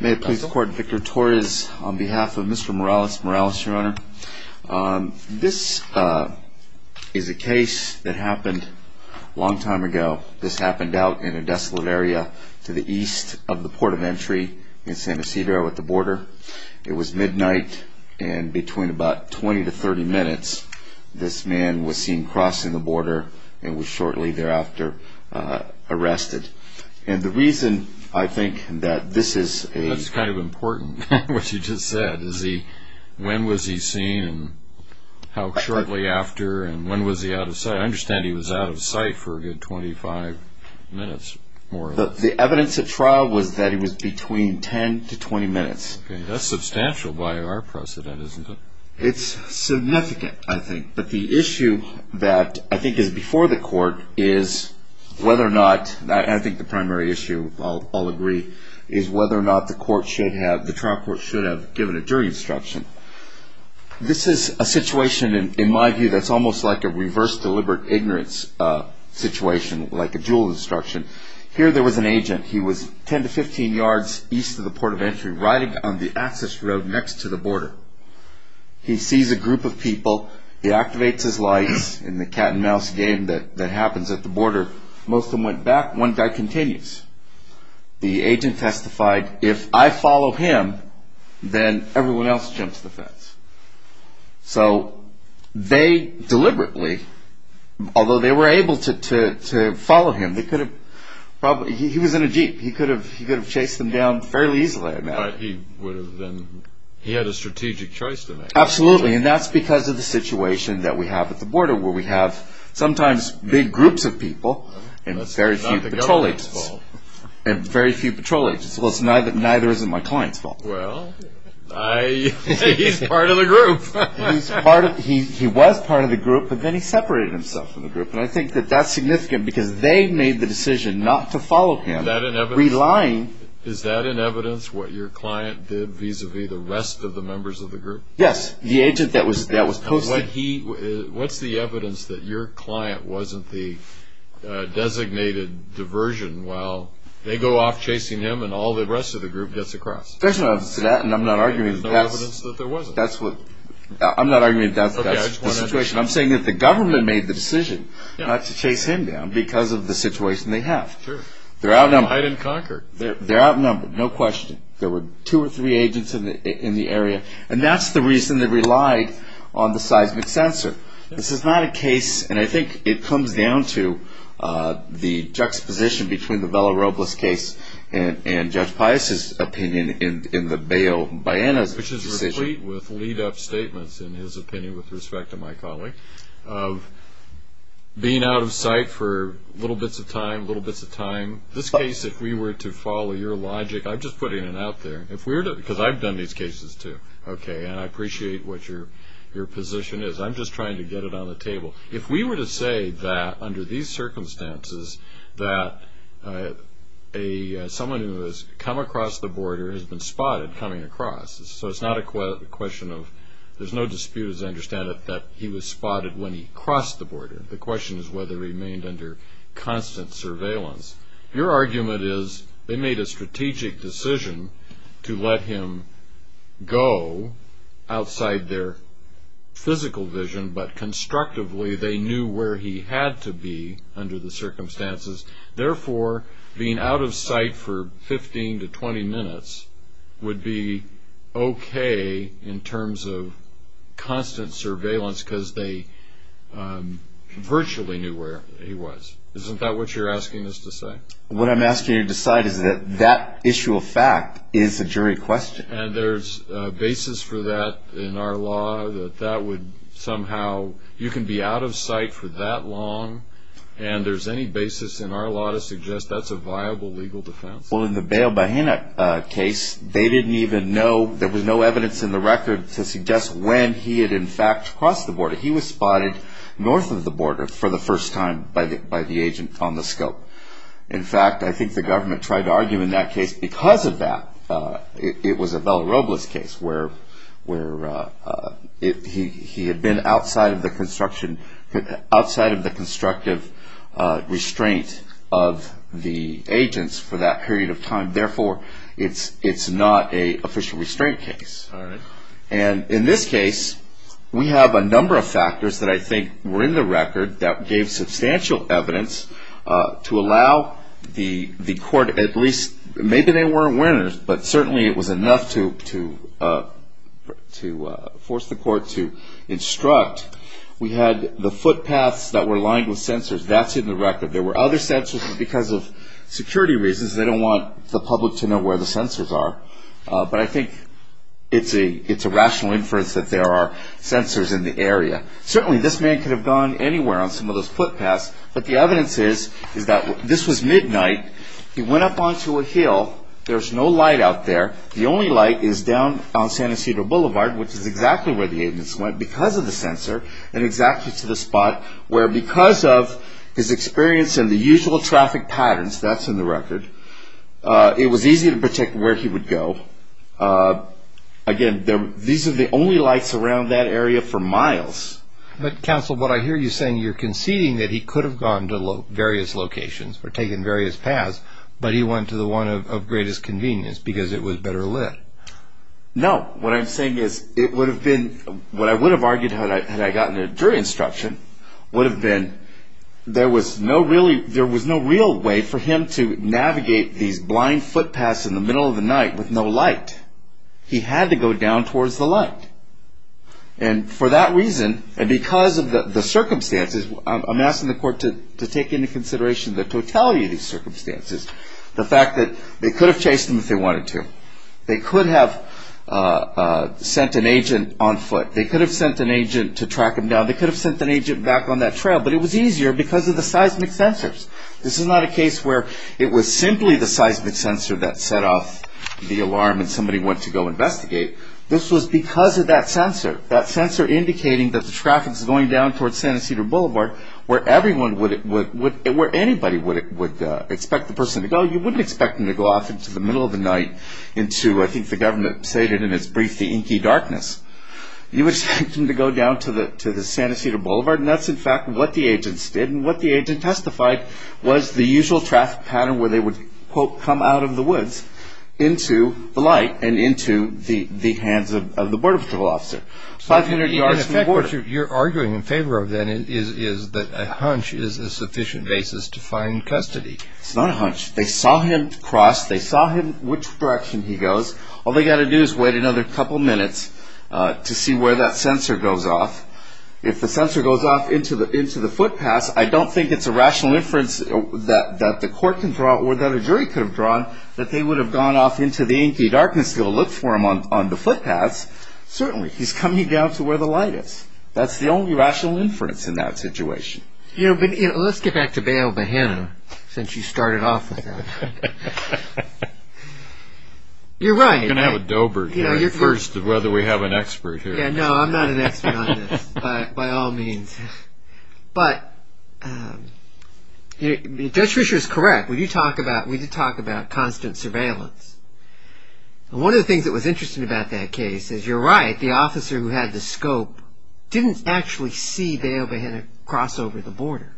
May it please the court, Victor Torres on behalf of Mr. Morales-Morales, your honor. This is a case that happened a long time ago. This happened out in a desolate area to the east of the port of entry in San Isidro at the border. It was midnight and between about 20 to 30 minutes this man was seen crossing the border and was shortly thereafter arrested. And the reason I think that this is a... That's kind of important, what you just said. When was he seen and how shortly after and when was he out of sight? I understand he was out of sight for a good 25 minutes. The evidence at trial was that he was between 10 to 20 minutes. That's substantial by our precedent, isn't it? It's significant, I think. But the issue that I think is before the court is whether or not... I think the primary issue, I'll agree, is whether or not the trial court should have given a jury instruction. This is a situation, in my view, that's almost like a reverse deliberate ignorance situation, like a dual instruction. Here there was an agent. He was 10 to 15 yards east of the port of entry, riding on the access road next to the border. He sees a group of people. He activates his lights. In the cat and mouse game that happens at the border, most of them went back, one guy continues. The agent testified, if I follow him, then everyone else jumps the fence. So they deliberately, although they were able to follow him, they could have probably... He was in a Jeep. He could have chased them down fairly easily. He had a strategic choice to make. Absolutely. And that's because of the situation that we have at the border, where we have sometimes big groups of people and very few patrol agents. That's not the government's fault. And very few patrol agents. Well, neither is it my client's fault. Well, he's part of the group. He was part of the group, but then he separated himself from the group. And I think that that's significant, because they made the decision not to follow him, relying... That your client did vis-a-vis the rest of the members of the group? Yes, the agent that was posted. What's the evidence that your client wasn't the designated diversion while they go off chasing him and all the rest of the group gets across? There's no evidence to that, and I'm not arguing that that's the situation. I'm saying that the government made the decision not to chase him down because of the situation they have. Sure. They're outnumbered. Hide and conquer. They're outnumbered, no question. There were two or three agents in the area, and that's the reason they relied on the seismic sensor. This is not a case, and I think it comes down to, the juxtaposition between the Vela Robles case and Judge Pius's opinion in the bail buy-in decision. Which is replete with lead-up statements, in his opinion with respect to my colleague, of being out of sight for little bits of time, little bits of time. This case, if we were to follow your logic, I'm just putting it out there, because I've done these cases, too, and I appreciate what your position is. I'm just trying to get it on the table. If we were to say that under these circumstances, that someone who has come across the border has been spotted coming across, so it's not a question of there's no dispute as I understand it that he was spotted when he crossed the border. The question is whether he remained under constant surveillance. Your argument is they made a strategic decision to let him go outside their physical vision, but constructively they knew where he had to be under the circumstances. Therefore, being out of sight for 15 to 20 minutes would be okay in terms of constant surveillance because they virtually knew where he was. Isn't that what you're asking us to say? What I'm asking you to decide is that that issue of fact is a jury question. And there's a basis for that in our law, that that would somehow, you can be out of sight for that long, and there's any basis in our law to suggest that's a viable legal defense. Well, in the Bayo Bahena case, they didn't even know, there was no evidence in the record to suggest when he had in fact crossed the border. He was spotted north of the border for the first time by the agent on the scope. In fact, I think the government tried to argue in that case because of that, it was a Vela Robles case where he had been outside of the construction, outside of the constructive restraint of the agents for that period of time. Therefore, it's not an official restraint case. And in this case, we have a number of factors that I think were in the record that gave substantial evidence to allow the court at least, maybe they weren't winners, but certainly it was enough to force the court to instruct. We had the footpaths that were lined with sensors. That's in the record. There were other sensors because of security reasons. They don't want the public to know where the sensors are. But I think it's a rational inference that there are sensors in the area. Certainly, this man could have gone anywhere on some of those footpaths, but the evidence is that this was midnight. He went up onto a hill. There's no light out there. The only light is down on San Isidro Boulevard, which is exactly where the agents went because of the sensor and exactly to the spot where because of his experience in the usual traffic patterns, that's in the record, it was easy to predict where he would go. Again, these are the only lights around that area for miles. But, counsel, what I hear you saying, you're conceding that he could have gone to various locations or taken various paths, but he went to the one of greatest convenience because it was better lit. No. What I'm saying is it would have been what I would have argued had I gotten a jury instruction would have been there was no real way for him to navigate these blind footpaths in the middle of the night with no light. He had to go down towards the light. And for that reason and because of the circumstances, I'm asking the court to take into consideration the totality of these circumstances, the fact that they could have chased him if they wanted to. They could have sent an agent on foot. They could have sent an agent to track him down. They could have sent an agent back on that trail. But it was easier because of the seismic sensors. This is not a case where it was simply the seismic sensor that set off the alarm and somebody went to go investigate. This was because of that sensor, that sensor indicating that the traffic is going down towards Santa Cedar Boulevard where anybody would expect the person to go. Well, you wouldn't expect them to go off into the middle of the night into, I think the government stated in its brief, the inky darkness. You would expect them to go down to the Santa Cedar Boulevard. And that's, in fact, what the agents did. And what the agent testified was the usual traffic pattern where they would, quote, come out of the woods into the light and into the hands of the border patrol officer 500 yards from the border. In effect, what you're arguing in favor of, then, is that a hunch is a sufficient basis to find custody. It's not a hunch. They saw him cross. They saw him, which direction he goes. All they've got to do is wait another couple minutes to see where that sensor goes off. If the sensor goes off into the footpaths, I don't think it's a rational inference that the court can draw or that a jury could have drawn that they would have gone off into the inky darkness to go look for him on the footpaths. Certainly, he's coming down to where the light is. That's the only rational inference in that situation. Let's get back to Bayo Bahena, since you started off with that. You're right. I'm going to have a dober here, first, of whether we have an expert here. No, I'm not an expert on this, by all means. But Judge Fischer is correct. We did talk about constant surveillance. One of the things that was interesting about that case is, you're right, the officer who had the scope didn't actually see Bayo Bahena cross over the border.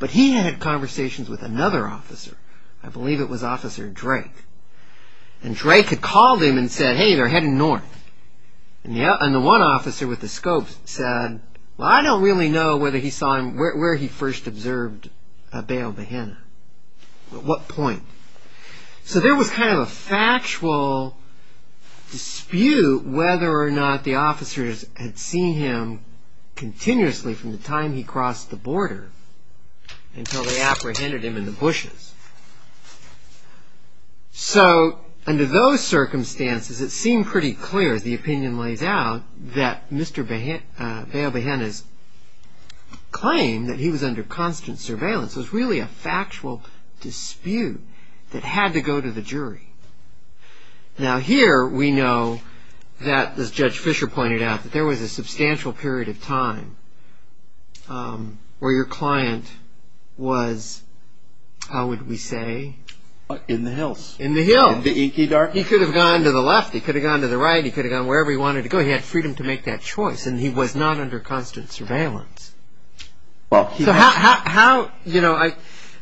But he had conversations with another officer. I believe it was Officer Drake. Drake had called him and said, hey, they're heading north. The one officer with the scope said, I don't really know where he first observed Bayo Bahena. At what point? So there was kind of a factual dispute whether or not the officers had seen him continuously from the time he crossed the border until they apprehended him in the bushes. So, under those circumstances, it seemed pretty clear, as the opinion lays out, that Mr. Bayo Bahena's claim that he was under constant surveillance was really a factual dispute that had to go to the jury. Now, here we know that, as Judge Fischer pointed out, that there was a substantial period of time where your client was, how would we say? In the hills. In the hills. In the inky dark. He could have gone to the left. He could have gone to the right. He could have gone wherever he wanted to go. He had freedom to make that choice. And he was not under constant surveillance. So how, you know,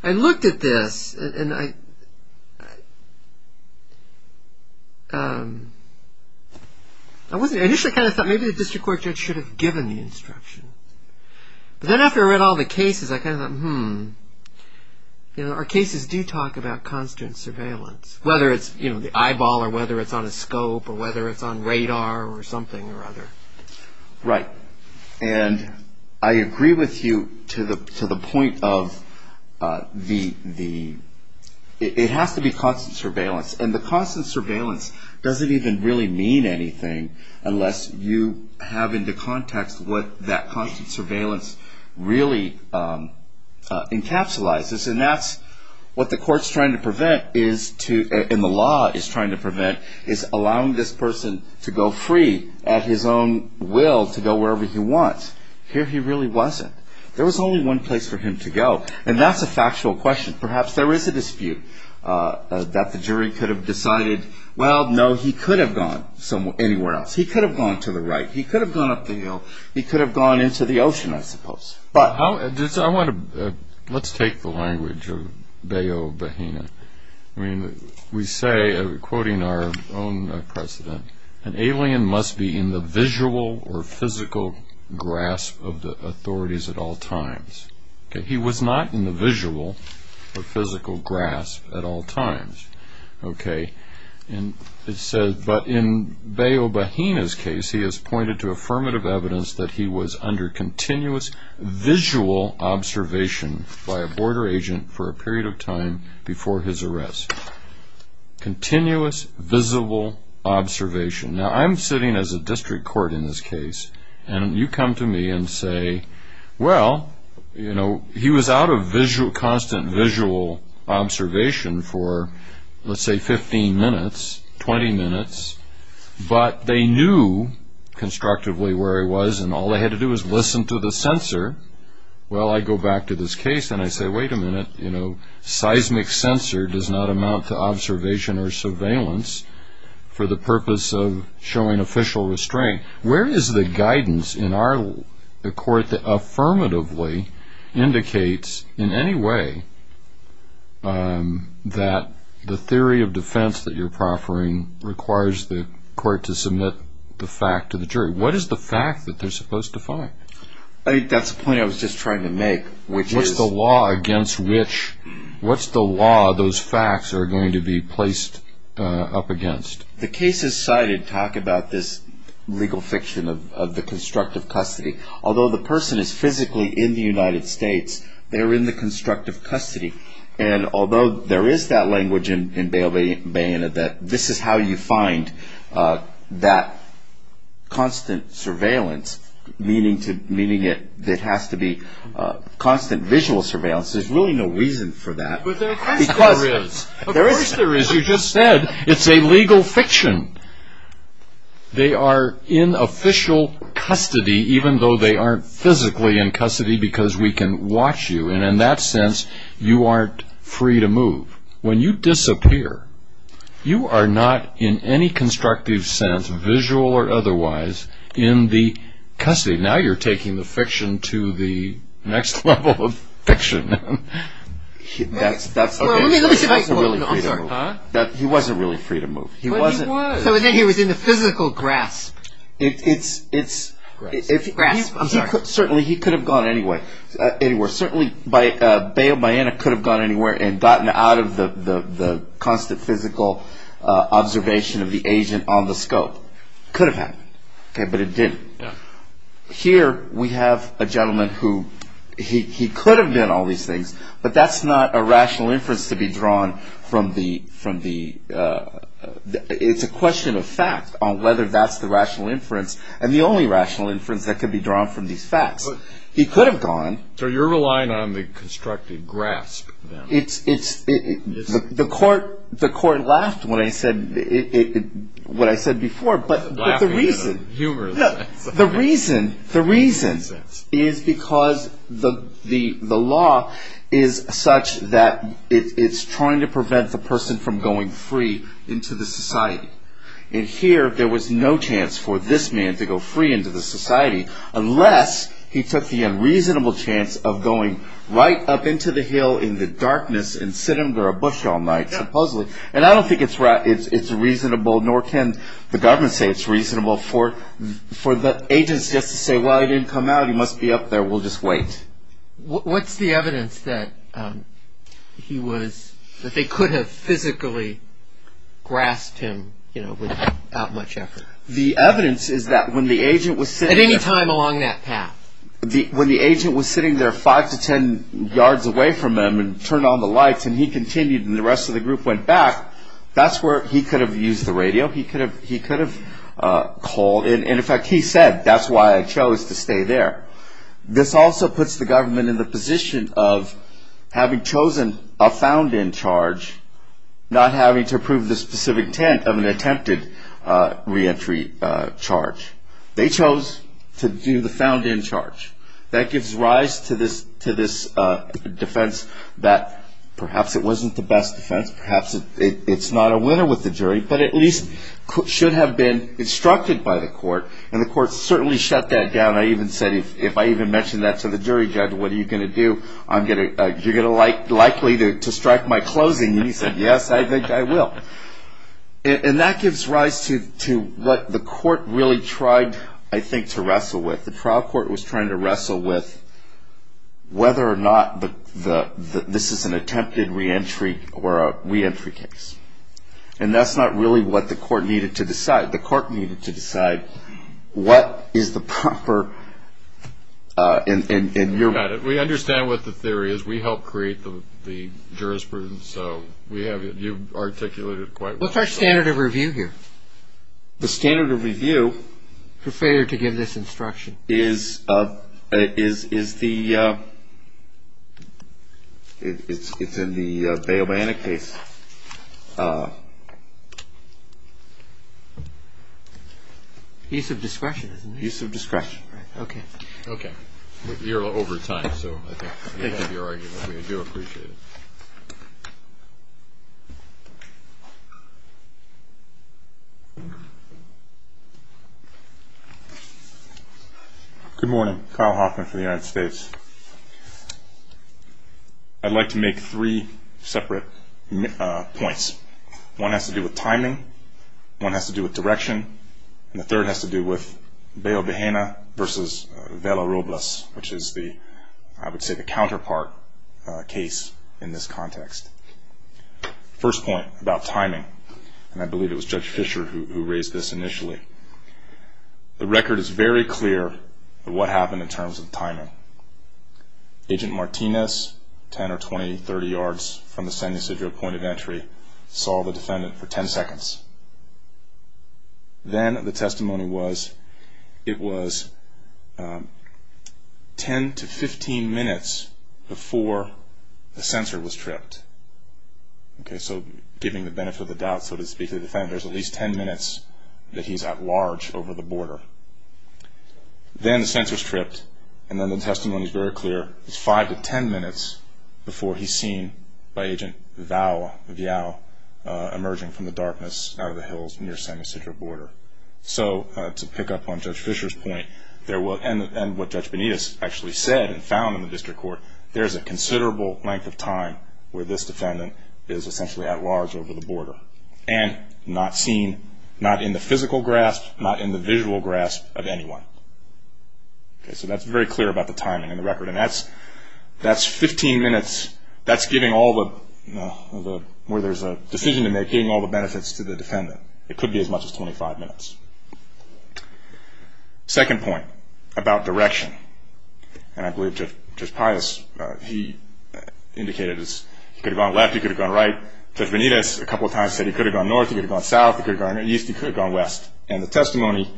I looked at this and I initially kind of thought maybe the district court judge should have given the instruction. But then after I read all the cases, I kind of thought, hmm. You know, our cases do talk about constant surveillance, whether it's, you know, the eyeball or whether it's on a scope or whether it's on radar or something or other. Right. And I agree with you to the point of the, it has to be constant surveillance. And the constant surveillance doesn't even really mean anything unless you have into context what that constant surveillance really encapsulizes. And that's what the court's trying to prevent is to, and the law is trying to prevent is allowing this person to go free at his own will to go wherever he wants. Here he really wasn't. There was only one place for him to go. And that's a factual question. Perhaps there is a dispute that the jury could have decided, well, no, he could have gone anywhere else. He could have gone to the right. He could have gone up the hill. He could have gone into the ocean, I suppose. Let's take the language of Bayo Bahena. I mean, we say, quoting our own president, an alien must be in the visual or physical grasp of the authorities at all times. He was not in the visual or physical grasp at all times. Okay. And it says, but in Bayo Bahena's case, he has pointed to affirmative evidence that he was under continuous visual observation by a border agent for a period of time before his arrest. Continuous visible observation. Now, I'm sitting as a district court in this case, and you come to me and say, well, you know, he was out of constant visual observation for, let's say, 15 minutes, 20 minutes, but they knew constructively where he was, and all they had to do was listen to the censor. Well, I go back to this case, and I say, wait a minute, you know, seismic censor does not amount to observation or surveillance for the purpose of showing official restraint. Where is the guidance in our court that affirmatively indicates in any way that the theory of defense that you're proffering requires the court to submit the fact to the jury? What is the fact that they're supposed to find? I think that's the point I was just trying to make, which is- What's the law against which, what's the law those facts are going to be placed up against? The cases cited talk about this legal fiction of the constructive custody. Although the person is physically in the United States, they're in the constructive custody, and although there is that language in Bayonet that this is how you find that constant surveillance, meaning it has to be constant visual surveillance, there's really no reason for that. Of course there is. Of course there is. You just said it's a legal fiction. They are in official custody, even though they aren't physically in custody because we can watch you, and in that sense you aren't free to move. When you disappear, you are not in any constructive sense, visual or otherwise, in the custody. Now you're taking the fiction to the next level of fiction. He wasn't really free to move. So then he was in the physical grasp. Certainly he could have gone anywhere. Certainly Bayonet could have gone anywhere and gotten out of the constant physical observation of the agent on the scope. It could have happened, but it didn't. Here we have a gentleman who could have done all these things, but that's not a rational inference to be drawn from the- It's a question of fact on whether that's the rational inference and the only rational inference that could be drawn from these facts. He could have gone. So you're relying on the constructive grasp. The court laughed when I said what I said before, but the reason- Laughing in a humorous sense. The reason is because the law is such that it's trying to prevent the person from going free into the society. And here there was no chance for this man to go free into the society unless he took the unreasonable chance of going right up into the hill in the darkness and sitting under a bush all night, supposedly. And I don't think it's reasonable, nor can the government say it's reasonable, for the agents just to say, well, he didn't come out. He must be up there. We'll just wait. What's the evidence that he was- that they could have physically grasped him without much effort? The evidence is that when the agent was sitting- At any time along that path. When the agent was sitting there five to ten yards away from him and turned on the lights and he continued and the rest of the group went back, that's where he could have used the radio. He could have called. And, in fact, he said, that's why I chose to stay there. This also puts the government in the position of having chosen a found-in charge, not having to prove the specific intent of an attempted reentry charge. They chose to do the found-in charge. That gives rise to this defense that perhaps it wasn't the best defense, perhaps it's not a winner with the jury, but at least should have been instructed by the court. And the court certainly shut that down. I even said, if I even mention that to the jury judge, what are you going to do? You're likely to strike my closing. And he said, yes, I think I will. And that gives rise to what the court really tried, I think, to wrestle with. The trial court was trying to wrestle with whether or not this is an attempted reentry or a reentry case. And that's not really what the court needed to decide. What is the proper – and you're – We understand what the theory is. We helped create the jurisprudence. So we have – you've articulated it quite well. What's our standard of review here? The standard of review – For failure to give this instruction. Is the – it's in the Bail Banna case. Use of discretion, isn't it? Use of discretion. Okay. Okay. You're over time, so I think you have your argument. We do appreciate it. Good morning. Kyle Hoffman for the United States. I'd like to make three separate points. One has to do with timing. One has to do with direction. And the third has to do with Bail Banna versus Vela Robles, which is the – I would say the counterpart case in this context. First point about timing, and I believe it was Judge Fischer who raised this initially. The record is very clear of what happened in terms of timing. Agent Martinez, 10 or 20, 30 yards from the San Ysidro point of entry, saw the defendant for 10 seconds. Then the testimony was it was 10 to 15 minutes before the censor was tripped. Okay, so giving the benefit of the doubt, so to speak, of the defendant. There's at least 10 minutes that he's at large over the border. Then the censor's tripped, and then the testimony is very clear. It's 5 to 10 minutes before he's seen by Agent Vial emerging from the darkness out of the hills near San Ysidro border. So to pick up on Judge Fischer's point, and what Judge Benitez actually said and found in the district court, there's a considerable length of time where this defendant is essentially at large over the border and not seen, not in the physical grasp, not in the visual grasp of anyone. Okay, so that's very clear about the timing in the record, and that's 15 minutes. That's giving all the, where there's a decision to make, giving all the benefits to the defendant. It could be as much as 25 minutes. Second point about direction, and I believe Judge Pius, he indicated he could have gone left, he could have gone right. Judge Benitez a couple of times said he could have gone north, he could have gone south, he could have gone east, he could have gone west. And the testimony,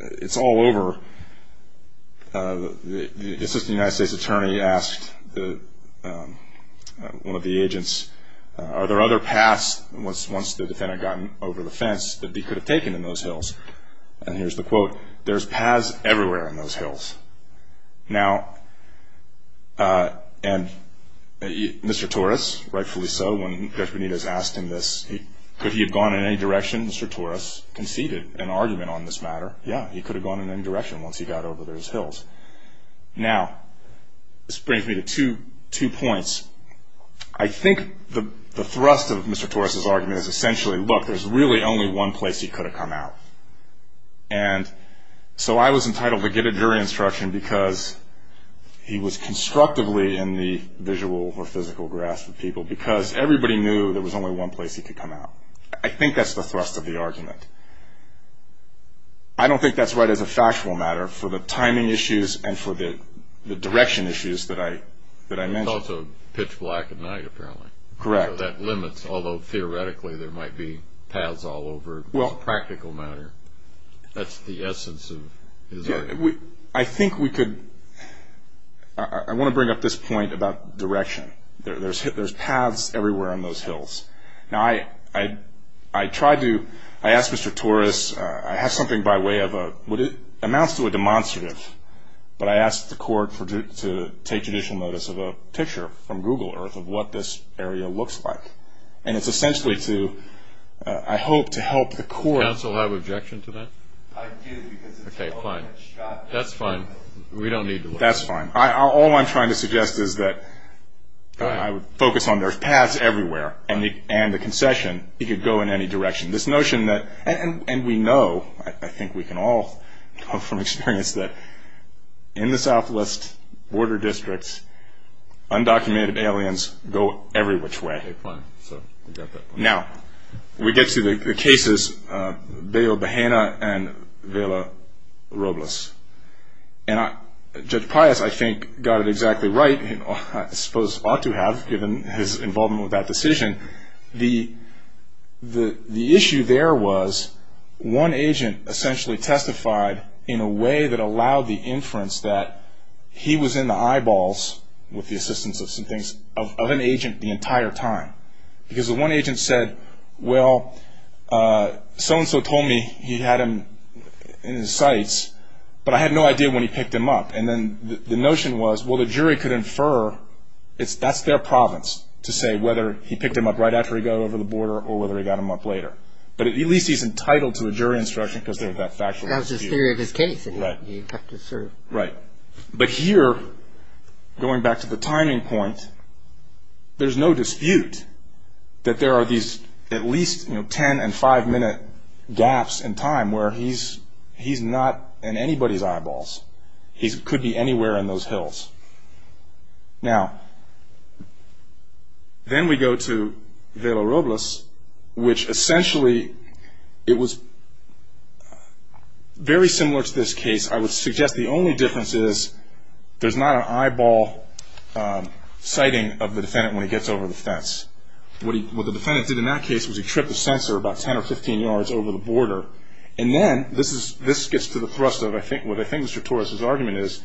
it's all over. The assistant United States attorney asked one of the agents, are there other paths once the defendant got over the fence that he could have taken in those hills? Now, and Mr. Torres, rightfully so, when Judge Benitez asked him this, could he have gone in any direction? Mr. Torres conceded an argument on this matter, yeah, he could have gone in any direction once he got over those hills. Now, this brings me to two points. I think the thrust of Mr. Torres' argument is essentially, look, there's really only one place he could have come out. And so I was entitled to get a jury instruction because he was constructively in the visual or physical grasp of people because everybody knew there was only one place he could come out. I think that's the thrust of the argument. I don't think that's right as a factual matter for the timing issues and for the direction issues that I mentioned. It's also pitch black at night, apparently. Correct. So that limits, although theoretically there might be paths all over in a practical matter. That's the essence of his argument. I think we could – I want to bring up this point about direction. There's paths everywhere on those hills. Now, I tried to – I asked Mr. Torres, I have something by way of a – it amounts to a demonstrative, but I asked the court to take judicial notice of a picture from Google Earth of what this area looks like. And it's essentially to – I hope to help the court. Does the counsel have an objection to that? I do because it's – Okay, fine. That's fine. We don't need to look. That's fine. All I'm trying to suggest is that I would focus on there's paths everywhere and the concession, he could go in any direction. This notion that – and we know, I think we can all know from experience, that in the southwest border districts, undocumented aliens go every which way. Okay, fine. So we got that. Now, we get to the cases, Bayo Bahena and Vela Robles. And Judge Pius, I think, got it exactly right. I suppose ought to have given his involvement with that decision. And the issue there was one agent essentially testified in a way that allowed the inference that he was in the eyeballs, with the assistance of some things, of an agent the entire time. Because the one agent said, well, so-and-so told me he had him in his sights, but I had no idea when he picked him up. And then the notion was, well, the jury could infer that's their province to say whether he picked him up right after he got over the border or whether he got him up later. But at least he's entitled to a jury instruction because of that factual dispute. That was his theory of his case. Right. You have to sort of – Right. But here, going back to the timing point, there's no dispute that there are these at least 10- and 5-minute gaps in time where he's not in anybody's eyeballs. He could be anywhere in those hills. Now, then we go to Velo Robles, which essentially it was very similar to this case. I would suggest the only difference is there's not an eyeball sighting of the defendant when he gets over the fence. What the defendant did in that case was he tripped the sensor about 10 or 15 yards over the border. And then this gets to the thrust of what I think Mr. Torres' argument is.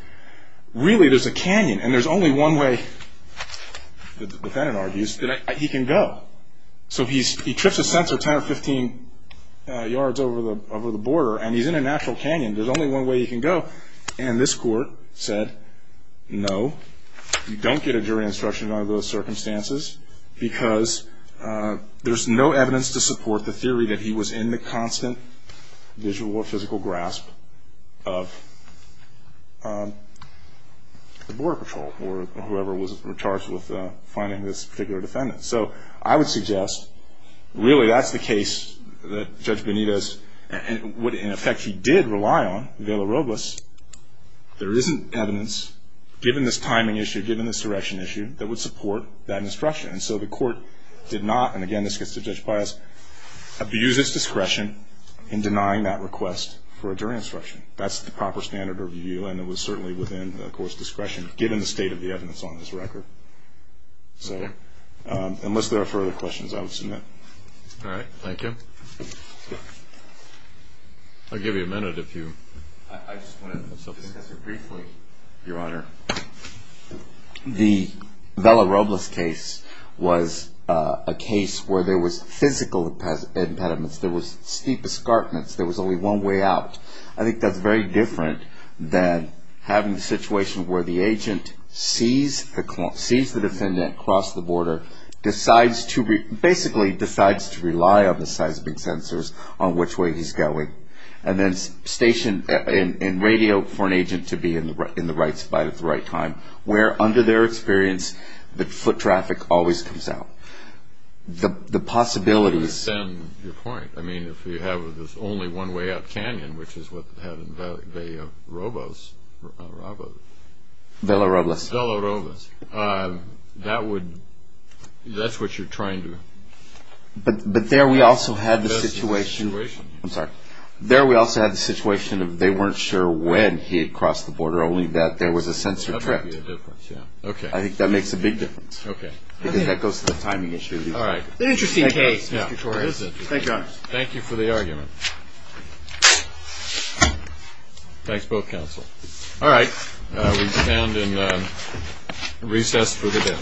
Really, there's a canyon, and there's only one way, the defendant argues, that he can go. So he trips the sensor 10 or 15 yards over the border, and he's in a natural canyon. There's only one way he can go. And this court said, no, you don't get a jury instruction under those circumstances because there's no evidence to support the theory that he was in the constant visual or physical grasp of the border patrol or whoever was charged with finding this particular defendant. So I would suggest really that's the case that Judge Benitez would, in effect, he did rely on, Velo Robles. There isn't evidence, given this timing issue, given this direction issue, that would support that instruction. And so the court did not, and again this gets to Judge Paez, abuse its discretion in denying that request for a jury instruction. That's the proper standard of review, and it was certainly within the court's discretion, given the state of the evidence on this record. So unless there are further questions, I will submit. All right. Thank you. I'll give you a minute if you want to discuss it briefly, Your Honor. The Velo Robles case was a case where there was physical impediments. There was steep escarpments. There was only one way out. I think that's very different than having a situation where the agent sees the defendant cross the border, basically decides to rely on the seismic sensors on which way he's going, and then stationed in radio for an agent to be in the right spot at the right time, where under their experience the foot traffic always comes out. The possibility is... To extend your point, I mean if you have this only one way out canyon, which is what they had in Velo Robles, that's what you're trying to... But there we also had the situation, I'm sorry, there we also had the situation of they weren't sure when he had crossed the border, only that there was a sensor tripped. I think that makes a big difference. Okay. Because that goes to the timing issue. All right. Interesting case, Mr. Torres. Thank you, Your Honor. Thank you for the argument. Thanks both counsel. All right. We stand in recess for the day.